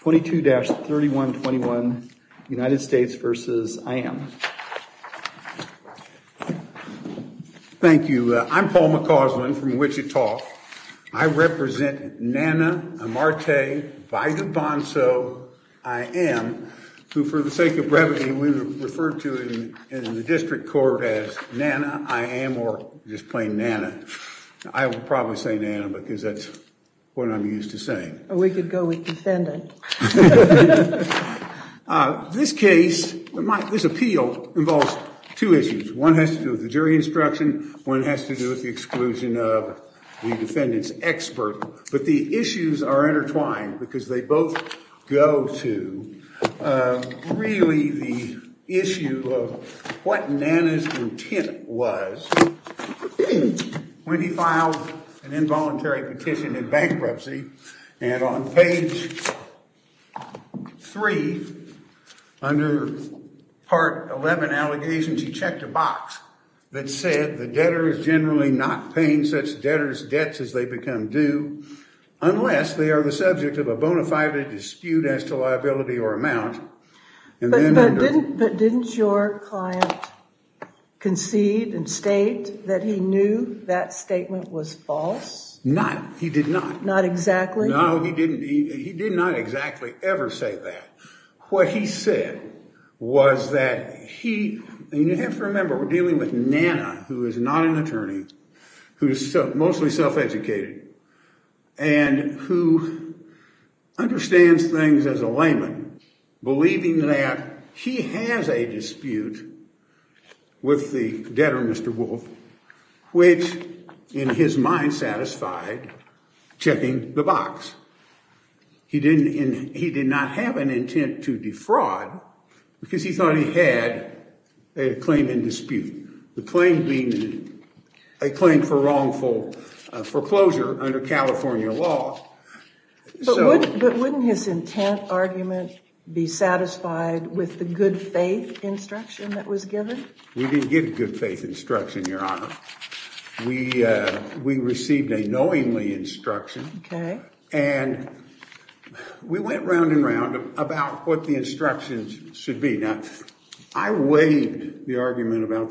22-3121 United States v. Iam. Thank you. I'm Paul McCausland from Wichita. I represent Nana Amarte Baidoobonso-Iam, who for the sake of brevity we would refer to in the district court as Nana, I am, or just plain Nana. I will probably say Nana because that's what I'm used to saying. We could go with defendant. This case, this appeal involves two issues. One has to do with the jury instruction, one has to do with the exclusion of the defendant's expert, but the issues are intertwined because they both go to really the issue of what Nana's intent was when he filed an involuntary petition in bankruptcy and on page 3 under part 11 allegations he checked a box that said the debtor is generally not paying such debtors debts as they become due unless they are the subject of a bona fide dispute as to liability or amount. But didn't your client concede and state that he knew that statement was false? Not, he did not. Not exactly? No, he didn't. He did not exactly ever say that. What he said was that he, and you have to remember we're dealing with Nana, who is not an attorney, who's mostly self-educated and who understands things as a layman, believing that he has a dispute with the debtor, Mr. Wolf, which in his mind satisfied checking the box. He didn't, he did not have an intent to defraud because he thought he had a claim in dispute. The claim being a claim for wrongful foreclosure under California law. But wouldn't his intent argument be satisfied with the good faith instruction that was given? We didn't give good faith instruction, Your Honor. We I weighed the argument about the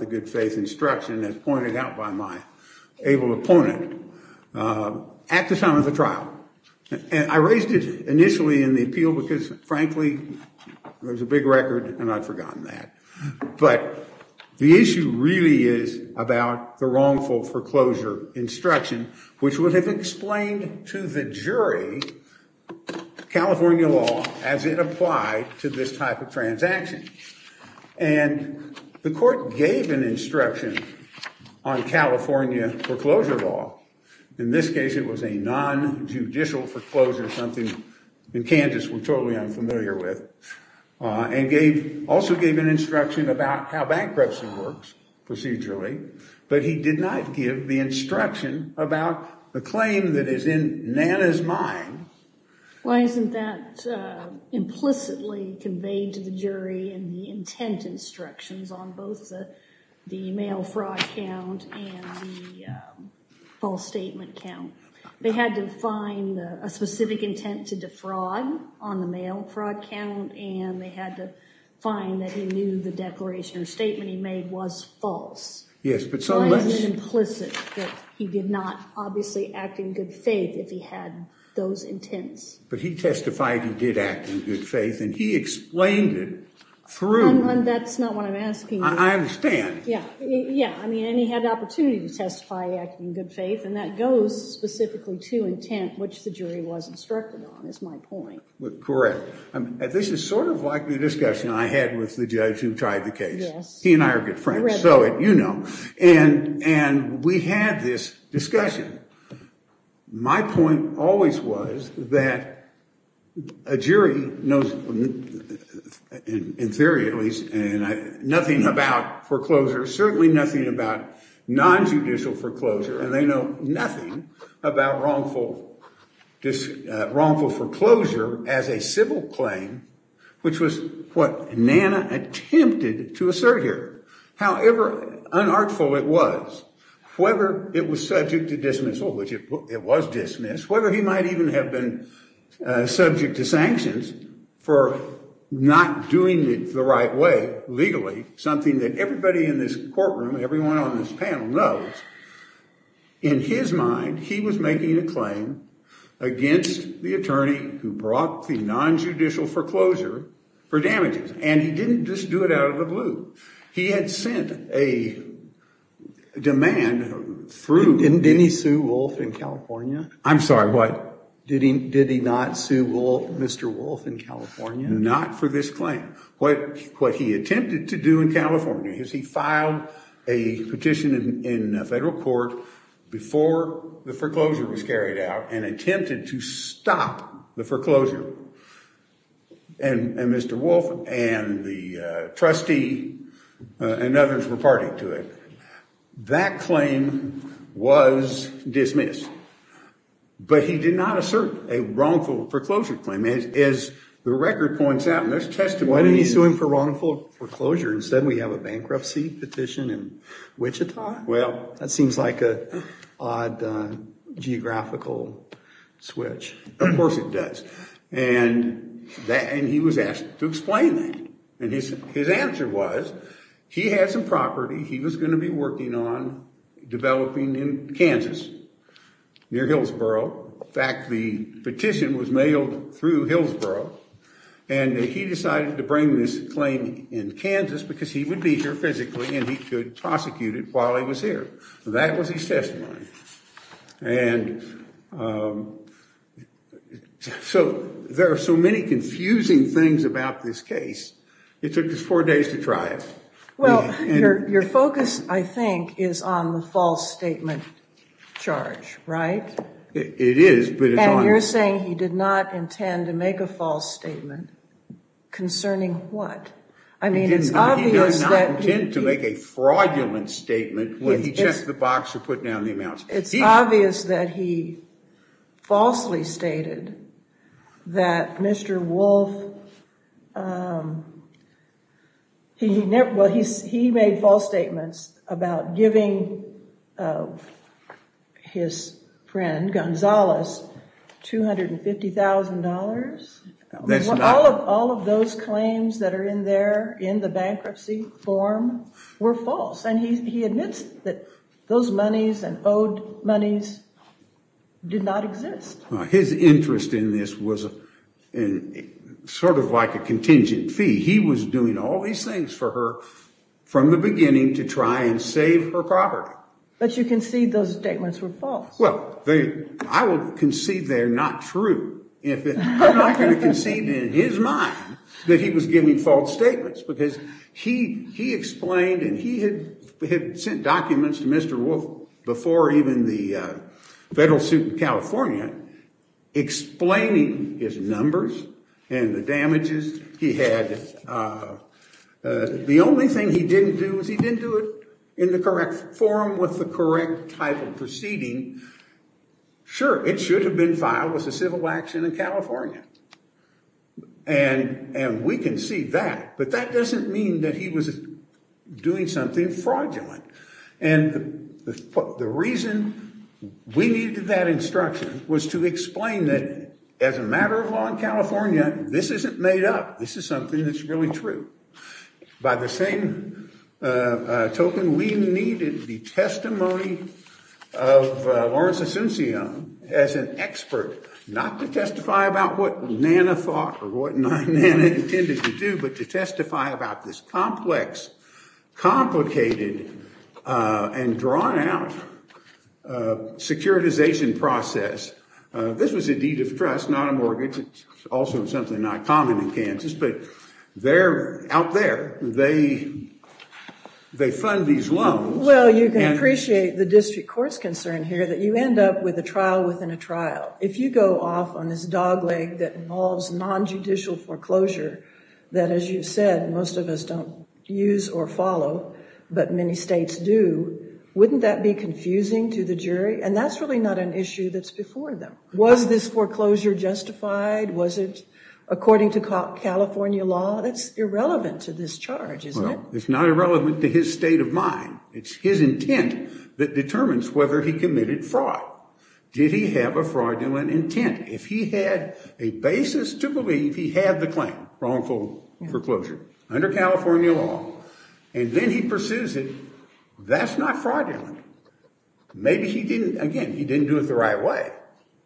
good faith instruction as pointed out by my able opponent at the time of the trial. And I raised it initially in the appeal because frankly, it was a big record and I'd forgotten that. But the issue really is about the wrongful foreclosure instruction, which would have explained to the jury California law as it applied to this type of case. And the court gave an instruction on California foreclosure law. In this case, it was a non-judicial foreclosure, something in Kansas we're totally unfamiliar with. And also gave an instruction about how bankruptcy works procedurally. But he did not give the instruction about the claim that is in Nana's mind. Why isn't that implicitly conveyed to the jury in the intent instructions on both the mail fraud count and the false statement count? They had to find a specific intent to defraud on the mail fraud count and they had to find that he knew the declaration or intent. But he testified he did act in good faith and he explained it through. That's not what I'm asking. I understand. Yeah. Yeah. I mean, and he had an opportunity to testify acting in good faith and that goes specifically to intent, which the jury was instructed on, is my point. Correct. This is sort of like the discussion I had with the judge who tried the case. He and I are good friends. So, you know, and we had this discussion. My point always was that a jury knows, in theory at least, nothing about foreclosure, certainly nothing about non-judicial foreclosure. And they know nothing about wrongful foreclosure as a civil claim, which was what Nana attempted to do. How unartful it was. Whether it was subject to dismissal, which it was dismissed, whether he might even have been subject to sanctions for not doing it the right way legally, something that everybody in this courtroom, everyone on this panel knows, in his mind he was making a claim against the attorney who brought the non-judicial foreclosure for damages. And he didn't just do it out of the blue. He had sent a demand through. Didn't he sue Wolf in California? I'm sorry, what? Did he not sue Mr. Wolf in California? Not for this claim. What he attempted to do in California is he filed a petition in federal court before the foreclosure was carried out and attempted to stop the foreclosure. And Mr. Wolf and the attorney said that claim was dismissed. But he did not assert a wrongful foreclosure claim. As the record points out in this testimony. Why didn't he sue him for wrongful foreclosure? Instead we have a bankruptcy petition in Wichita? Well, that seems like an odd geographical switch. Of course it does. And he was going to be working on developing in Kansas near Hillsboro. In fact, the petition was mailed through Hillsboro and he decided to bring this claim in Kansas because he would be here physically and he could prosecute it while he was here. That was his testimony. And so there are so many confusing things about this case. It took us four days to try it. Well, your focus, I think, is on the false statement charge, right? It is. But you're saying he did not intend to make a false statement concerning what? I mean, he did not intend to make a fraudulent statement when he checked the box or put down the charge. He made false statements about giving his friend, Gonzales, $250,000. All of those claims that are in there in the bankruptcy form were false. And he admits that those monies and owed monies did not exist. His interest in this was sort of like a contingent fee. He was doing all these things for her from the beginning to try and save her property. But you concede those statements were false? Well, I would concede they're not true. I'm not going to concede in his mind that he was giving false statements because he explained and he had sent documents to Mr. Wolfe before even the federal suit in California explaining his numbers and the damages he had. And the only thing he didn't do is he didn't do it in the correct form with the correct type of proceeding. Sure, it should have been filed with a civil action in California. And we can see that. But that doesn't mean that he was doing something fraudulent. And the reason we needed that instruction was to explain that as a matter of law in California, this isn't made up. This is something that's really true. By the same token, we needed the testimony of Lawrence Asuncion as an expert, not to testify about what NANA thought or what NANA intended to do, but to testify about this complex, complicated, and drawn out securitization process. This was a deed of trust, not a mortgage. It's also something not common in Kansas, but they're out there. They fund these loans. Well, you can appreciate the district court's concern here that you end up with a trial within a trial. If you go off on this dogleg that involves nonjudicial foreclosure that, as you said, most of us don't use or follow, but many states do, wouldn't that be confusing to the jury? And that's really not an issue that's before them. Was this foreclosure justified? Was it according to California law? That's irrelevant to this charge, isn't it? It's not irrelevant to his state of mind. It's his intent that determines whether he committed fraud. Did he have a fraudulent intent? If he had a basis to believe he had the claim, wrongful foreclosure, under California law, and then he pursues it, that's not fraudulent. Maybe he didn't, again, he didn't do it the right way.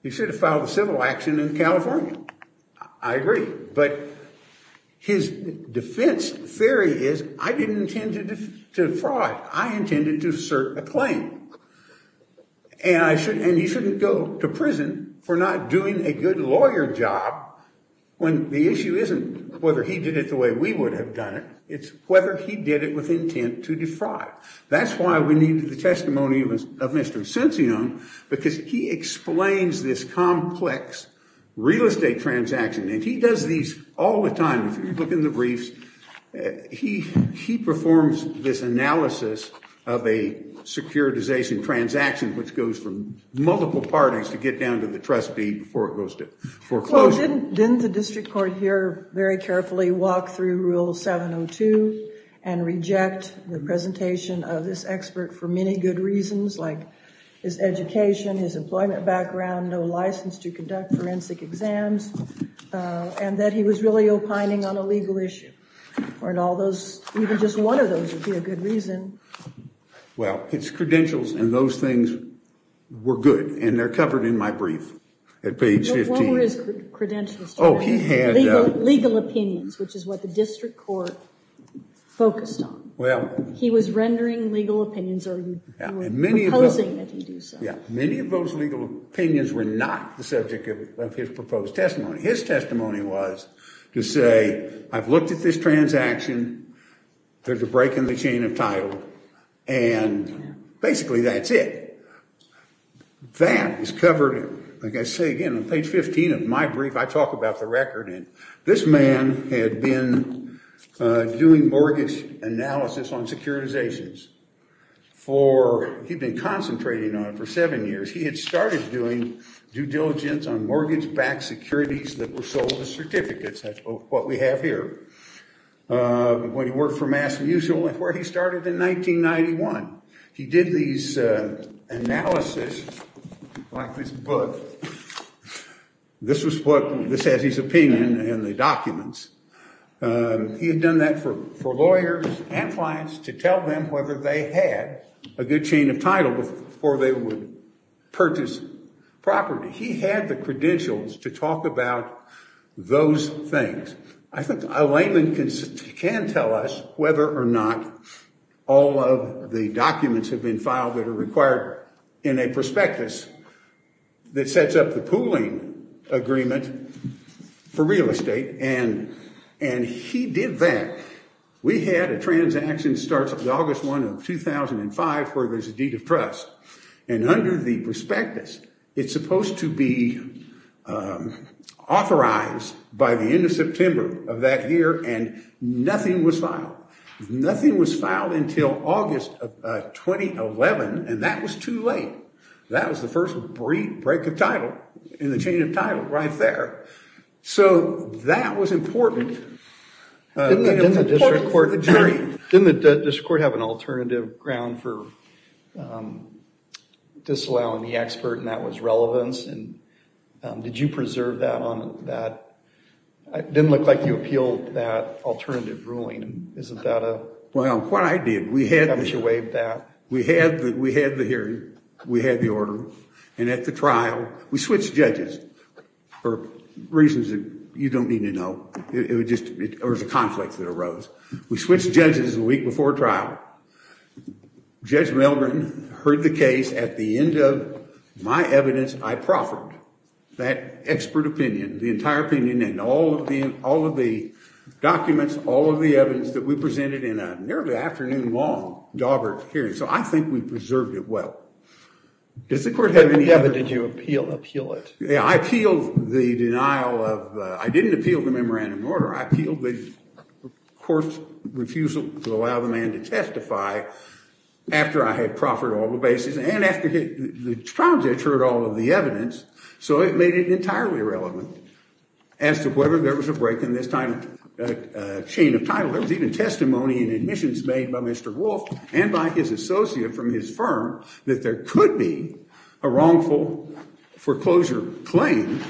He should have filed a civil action in California. I agree. But his defense theory is, I didn't intend to defraud. I intended to assert a claim. And he shouldn't go to prison for not doing a good lawyer job when the issue isn't whether he did it the way we would have done it. It's whether he did it with intent to defraud. That's why we needed the testimony of Mr. Ascension, because he explains this complex real estate transaction. And he does these all the time. If you look in the briefs, he performs this analysis of a securitization transaction, which goes from multiple parties to get down to the trustee before it goes to foreclosure. Didn't the district court here very carefully walk through Rule 702 and reject the presentation of this expert for many good reasons, like his education, his employment background, no license to conduct forensic exams, and that he was really opining on a legal issue? Or in all those, even just one of those would be a good reason. Well, his credentials and those things were good. And they're covered in my brief at page 15. What were his credentials? Oh, he had legal opinions, which is what the district court focused on. Well, he was rendering legal opinions, or he was proposing that he do so. Yeah, many of those legal opinions were not the subject of his proposed testimony. His testimony was to say, I've looked at this transaction. There's a break in the chain of title. And basically, that's it. That is covered, like I say again, on page 15 of my brief. I talk about the record. And this man had been doing mortgage analysis on securitizations. He'd been concentrating on it for seven years. He had started doing due diligence on mortgage-backed securities that were sold as certificates. That's what we have here. When he worked for Mass. Mutual, where he started in 1991, he did these analysis, like this book. This was what, this has his opinion in the documents. He had done that for lawyers and clients to tell them whether they had a good chain of title before they would purchase property. He had the credentials to talk about those things. I think a layman can tell us whether or not all of the documents have been filed that are required in a prospectus that sets up the pooling agreement for real estate. And he did that. We had a transaction that starts on August 1 of 2005, where there's a deed of trust. And under the prospectus, it's supposed to be authorized by the end of September of that year, and nothing was filed. Nothing was filed until August of 2011, and that was too late. That was the first break of title in the chain of title right there. So that was important. Didn't the district court have an alternative ground for disallowing the expert, and that was relevance? Did you preserve that? It didn't look like you appealed that alternative ruling. Well, what I did, we had the hearing. We had the order. And at the trial, we switched judges for reasons that you don't need to know. It was a conflict that arose. We switched judges a week before trial. Judge Milgren heard the case. At the end of my evidence, I proffered that expert opinion, the entire opinion, and all of the documents, all of the evidence that we presented in a nearly afternoon-long dobber hearing. So I think we preserved it well. Did the court have any evidence? Did you appeal it? There could be a wrongful foreclosure claim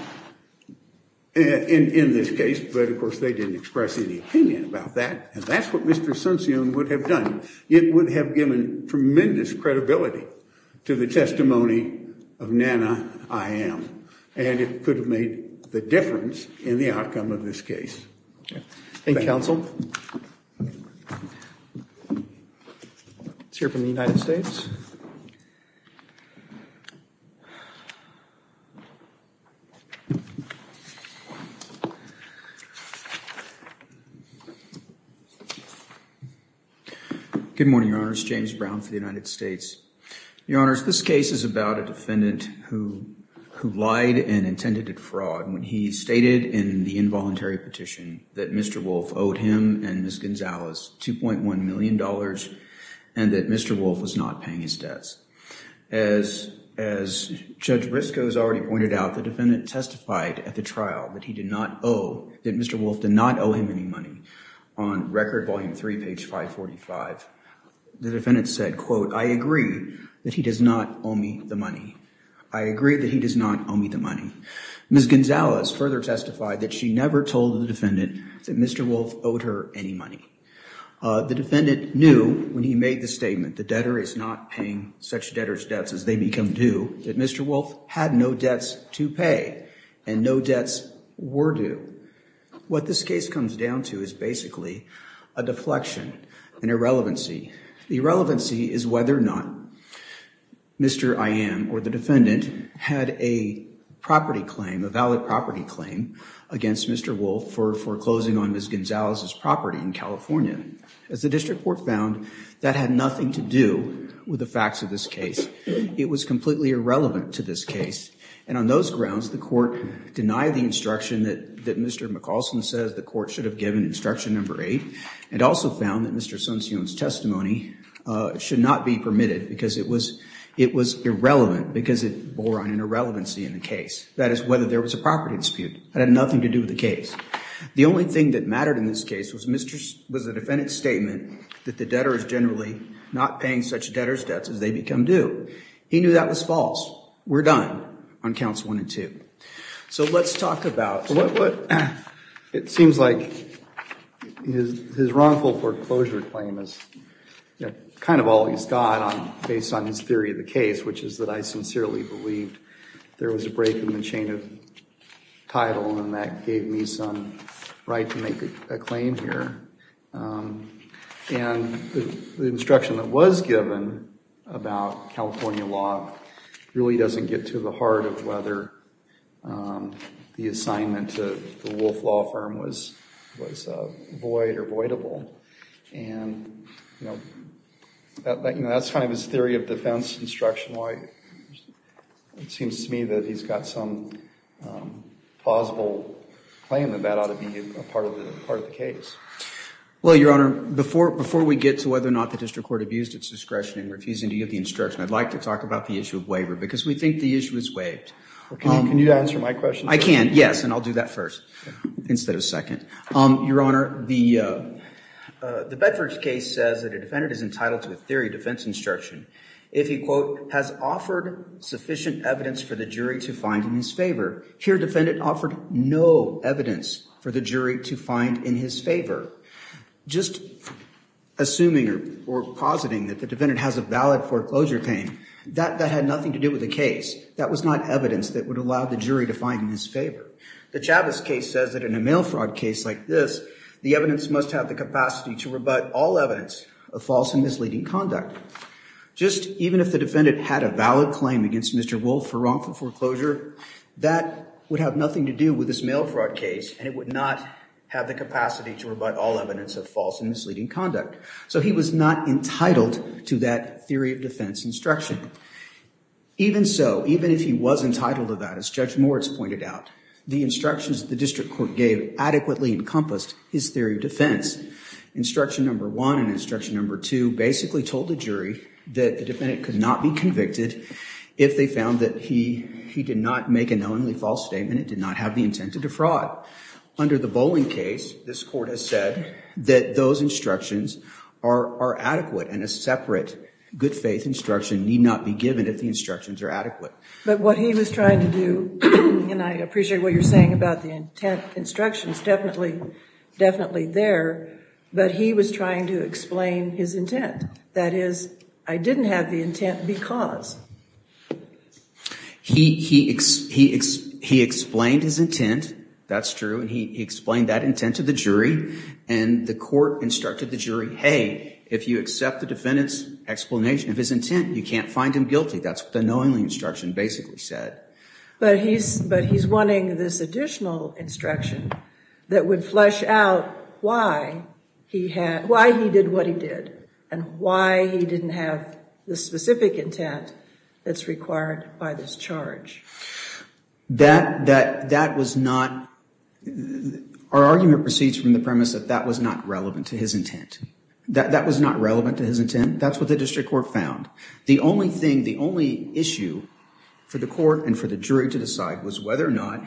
in this case, but, of course, they didn't express any opinion about that, and that's what Mr. Sunstein would have done. It would have given tremendous credibility to the testimony of Nana Iyam, and it could have made the difference in the outcome of this case. Thank you, counsel. Let's hear from the United States. Good morning, Your Honors. James Brown for the United States. Your Honors, this case is about a defendant who lied and intended fraud when he stated in the involuntary petition that Mr. Wolfe owed him and Ms. Gonzalez $2.1 million and that Mr. Wolfe was not paying his debts. As Judge Briscoe has already pointed out, the defendant testified at the trial that he did not owe, that Mr. Wolfe did not owe him any money. On Record Volume 3, page 545, the defendant said, quote, I agree that he does not owe me the money. I agree that he does not owe me the money. Ms. Gonzalez further testified that she never told the defendant that Mr. Wolfe owed her any money. The defendant knew when he made the statement, the debtor is not paying such debtors debts as they become due, that Mr. Wolfe had no debts to pay and no debts were due. What this case comes down to is basically a deflection, an irrelevancy. The irrelevancy is whether or not Mr. Iam or the defendant had a property claim, a valid property claim against Mr. Wolfe for foreclosing on Ms. Gonzalez's property in California. As the district court found, that had nothing to do with the facts of this case. It was completely irrelevant to this case. And on those grounds, the court denied the instruction that Mr. McAulson says the court should have given instruction number 8 and also found that Mr. Sunstein's testimony should not be permitted because it was irrelevant because it bore on an irrelevancy in the case. That is whether there was a property dispute. It had nothing to do with the case. The only thing that mattered in this case was the defendant's statement that the debtor is generally not paying such debtors debts as they become due. He knew that was false. We're done on counts 1 and 2. So let's talk about what it seems like his wrongful foreclosure claim is kind of all he's got based on his theory of the case, which is that I sincerely believe there was a break in the chain of title and that gave me some right to make a claim here. And the instruction that was given about California law really doesn't get to the heart of whether the assignment to the Wolf Law Firm was void or voidable. And that's kind of his theory of defense instruction. It seems to me that he's got some plausible claim that that ought to be a part of the case. Well, Your Honor, before we get to whether or not the district court abused its discretion in refusing to give the instruction, I'd like to talk about the issue of waiver because we think the issue is waived. Can you answer my question? I can, yes, and I'll do that first instead of second. Your Honor, the Bedford case says that a defendant is entitled to a theory of defense instruction if he, quote, has offered sufficient evidence for the jury to find in his favor. Here, defendant offered no evidence for the jury to find in his favor. Just assuming or positing that the defendant has a valid foreclosure claim, that had nothing to do with the case. That was not evidence that would allow the jury to find in his favor. The Chavez case says that in a mail fraud case like this, the evidence must have the capacity to rebut all evidence of false and misleading conduct. Just even if the defendant had a valid claim against Mr. Wolf for wrongful foreclosure, that would have nothing to do with this mail fraud case and it would not have the capacity to rebut all evidence of false and misleading conduct. So he was not entitled to that theory of defense instruction. Even so, even if he was entitled to that, as Judge Moritz pointed out, the instructions the district court gave adequately encompassed his theory of defense. Instruction number one and instruction number two basically told the jury that the defendant could not be convicted if they found that he did not make a knowingly false statement and did not have the intent to defraud. Under the Boling case, this court has said that those instructions are adequate and a separate good faith instruction need not be given if the instructions are adequate. But what he was trying to do, and I appreciate what you're saying about the intent instructions definitely there, but he was trying to explain his intent. That is, I didn't have the intent because. He explained his intent, that's true, and he explained that intent to the jury and the court instructed the jury, hey, if you accept the defendant's explanation of his intent, you can't find him guilty. That's what the knowingly instruction basically said. But he's wanting this additional instruction that would flesh out why he did what he did and why he didn't have the specific intent that's required by this charge. That was not, our argument proceeds from the premise that that was not relevant to his intent. That was not relevant to his intent. That's what the district court found. The only thing, the only issue for the court and for the jury to decide was whether or not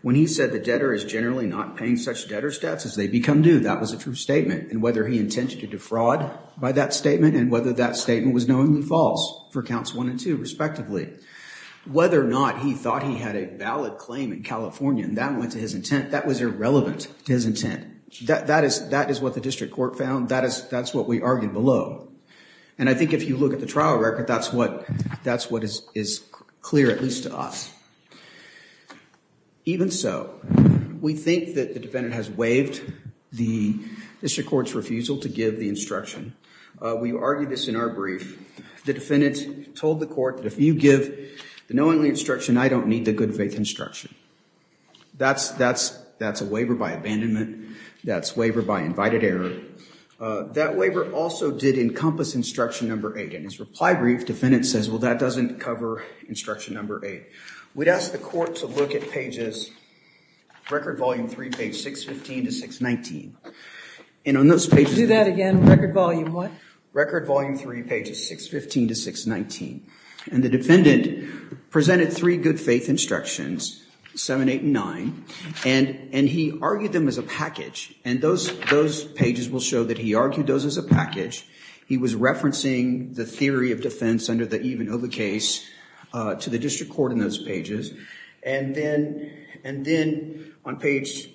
when he said the debtor is generally not paying such debtor's debts as they become due, that was a true statement. And whether he intended to defraud by that statement and whether that statement was knowingly false for counts one and two respectively. Whether or not he thought he had a valid claim in California and that went to his intent, that was irrelevant to his intent. That is what the district court found. That's what we argued below. And I think if you look at the trial record, that's what is clear, at least to us. Even so, we think that the defendant has waived the district court's refusal to give the instruction. We argued this in our brief. The defendant told the court that if you give the knowingly instruction, I don't need the good faith instruction. That's a waiver by abandonment. That's waiver by invited error. That waiver also did encompass instruction number eight. In his reply brief, defendant says, well, that doesn't cover instruction number eight. We'd ask the court to look at pages, record volume three, page 615 to 619. Do that again, record volume what? Record volume three, pages 615 to 619. And the defendant presented three good faith instructions, seven, eight, and nine. And he argued them as a package. And those pages will show that he argued those as a package. He was referencing the theory of defense under the even over case to the district court in those pages. And then on page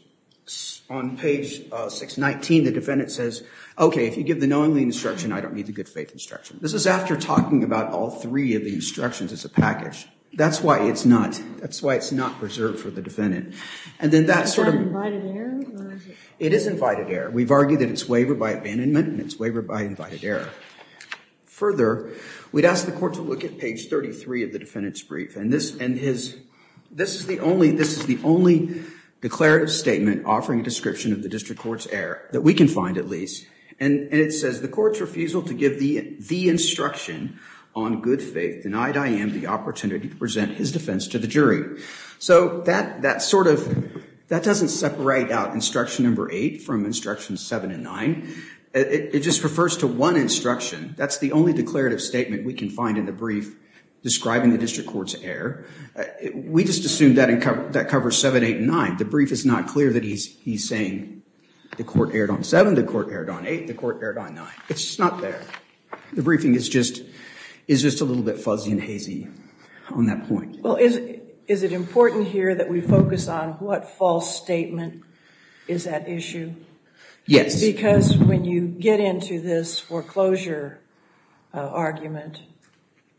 619, the defendant says, OK, if you give the knowingly instruction, I don't need the good faith instruction. This is after talking about all three of the instructions as a package. That's why it's not preserved for the defendant. And then that sort of- Is that invited error? It is invited error. We've argued that it's waiver by abandonment and it's waiver by invited error. Further, we'd ask the court to look at page 33 of the defendant's brief. And this is the only declarative statement offering a description of the district court's error, that we can find at least. And it says, the court's refusal to give the instruction on good faith denied I.M. the opportunity to present his defense to the jury. So that doesn't separate out instruction number eight from instruction seven and nine. It just refers to one instruction. That's the only declarative statement we can find in the brief describing the district court's error. We just assumed that covers seven, eight, and nine. The brief is not clear that he's saying the court erred on seven, the court erred on eight, the court erred on nine. It's not there. The briefing is just a little bit fuzzy and hazy on that point. Well, is it important here that we focus on what false statement is at issue? Yes. Because when you get into this foreclosure argument,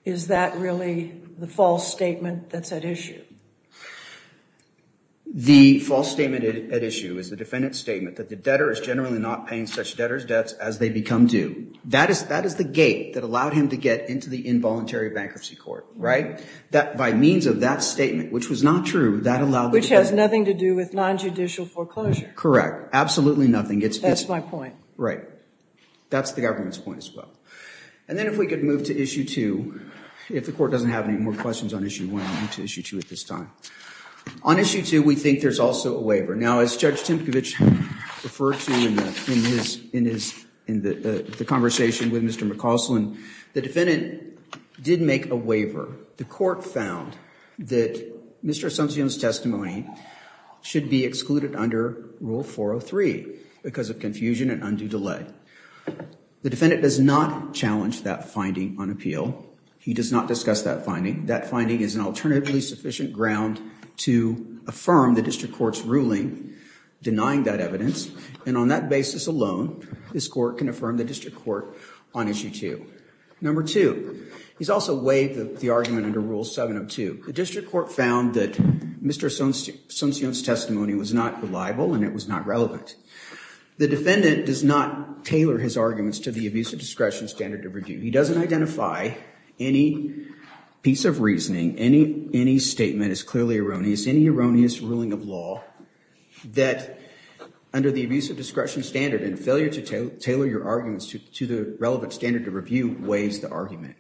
is that really the false statement that's at issue? The false statement at issue is the defendant's statement that the debtor is generally not paying such debtor's debts as they become due. That is the gate that allowed him to get into the involuntary bankruptcy court, right? That by means of that statement, which was not true, that allowed the debtor. Which has nothing to do with nonjudicial foreclosure. Correct. Absolutely nothing. That's my point. Right. That's the government's point as well. And then if we could move to issue two. If the court doesn't have any more questions on issue one, I'll move to issue two at this time. On issue two, we think there's also a waiver. Now, as Judge Timkovich referred to in the conversation with Mr. McCausland, the defendant did make a waiver. However, the court found that Mr. Asuncion's testimony should be excluded under Rule 403 because of confusion and undue delay. The defendant does not challenge that finding on appeal. He does not discuss that finding. That finding is an alternatively sufficient ground to affirm the district court's ruling denying that evidence. And on that basis alone, this court can affirm the district court on issue two. Number two. He's also waived the argument under Rule 702. The district court found that Mr. Asuncion's testimony was not reliable and it was not relevant. The defendant does not tailor his arguments to the abuse of discretion standard of review. He doesn't identify any piece of reasoning, any statement as clearly erroneous, any erroneous ruling of law, that under the abuse of discretion standard and failure to tailor your arguments to the relevant standard of review waives the argument.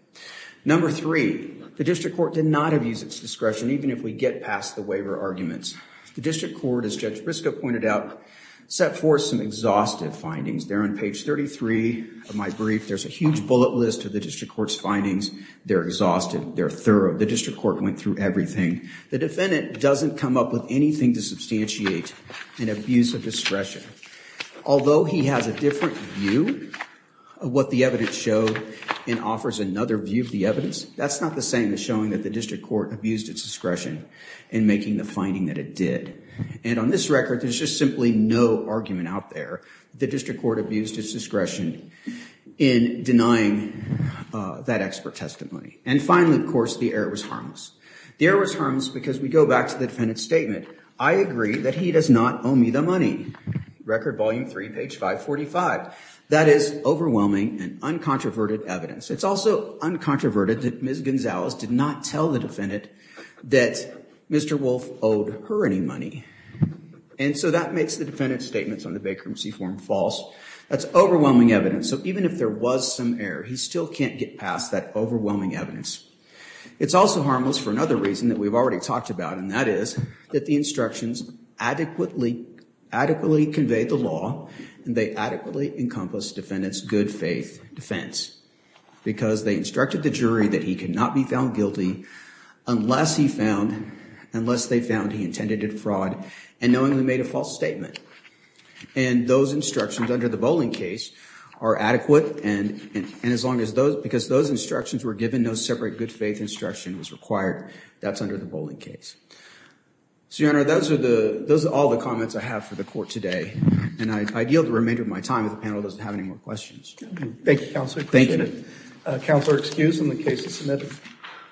Number three. The district court did not abuse its discretion even if we get past the waiver arguments. The district court, as Judge Briscoe pointed out, set forth some exhaustive findings. They're on page 33 of my brief. There's a huge bullet list of the district court's findings. They're exhaustive. They're thorough. The district court went through everything. The defendant doesn't come up with anything to substantiate an abuse of discretion. Although he has a different view of what the evidence showed and offers another view of the evidence, that's not the same as showing that the district court abused its discretion in making the finding that it did. And on this record, there's just simply no argument out there that the district court abused its discretion in denying that expert testimony. And finally, of course, the error was harmless. The error was harmless because we go back to the defendant's statement. I agree that he does not owe me the money. Record volume three, page 545. That is overwhelming and uncontroverted evidence. It's also uncontroverted that Ms. Gonzalez did not tell the defendant that Mr. Wolfe owed her any money. And so that makes the defendant's statements on the vacancy form false. That's overwhelming evidence. So even if there was some error, he still can't get past that overwhelming evidence. It's also harmless for another reason that we've already talked about, and that is that the instructions adequately convey the law, and they adequately encompass defendant's good faith defense. Because they instructed the jury that he could not be found guilty unless they found he intended to fraud, and knowingly made a false statement. And those instructions under the bowling case are adequate, because those instructions were given, no separate good faith instruction was required. That's under the bowling case. So, Your Honor, those are all the comments I have for the court today. And I yield the remainder of my time if the panel doesn't have any more questions. Thank you, Counselor. I appreciate it. Counselor, excuse in the case is submitted.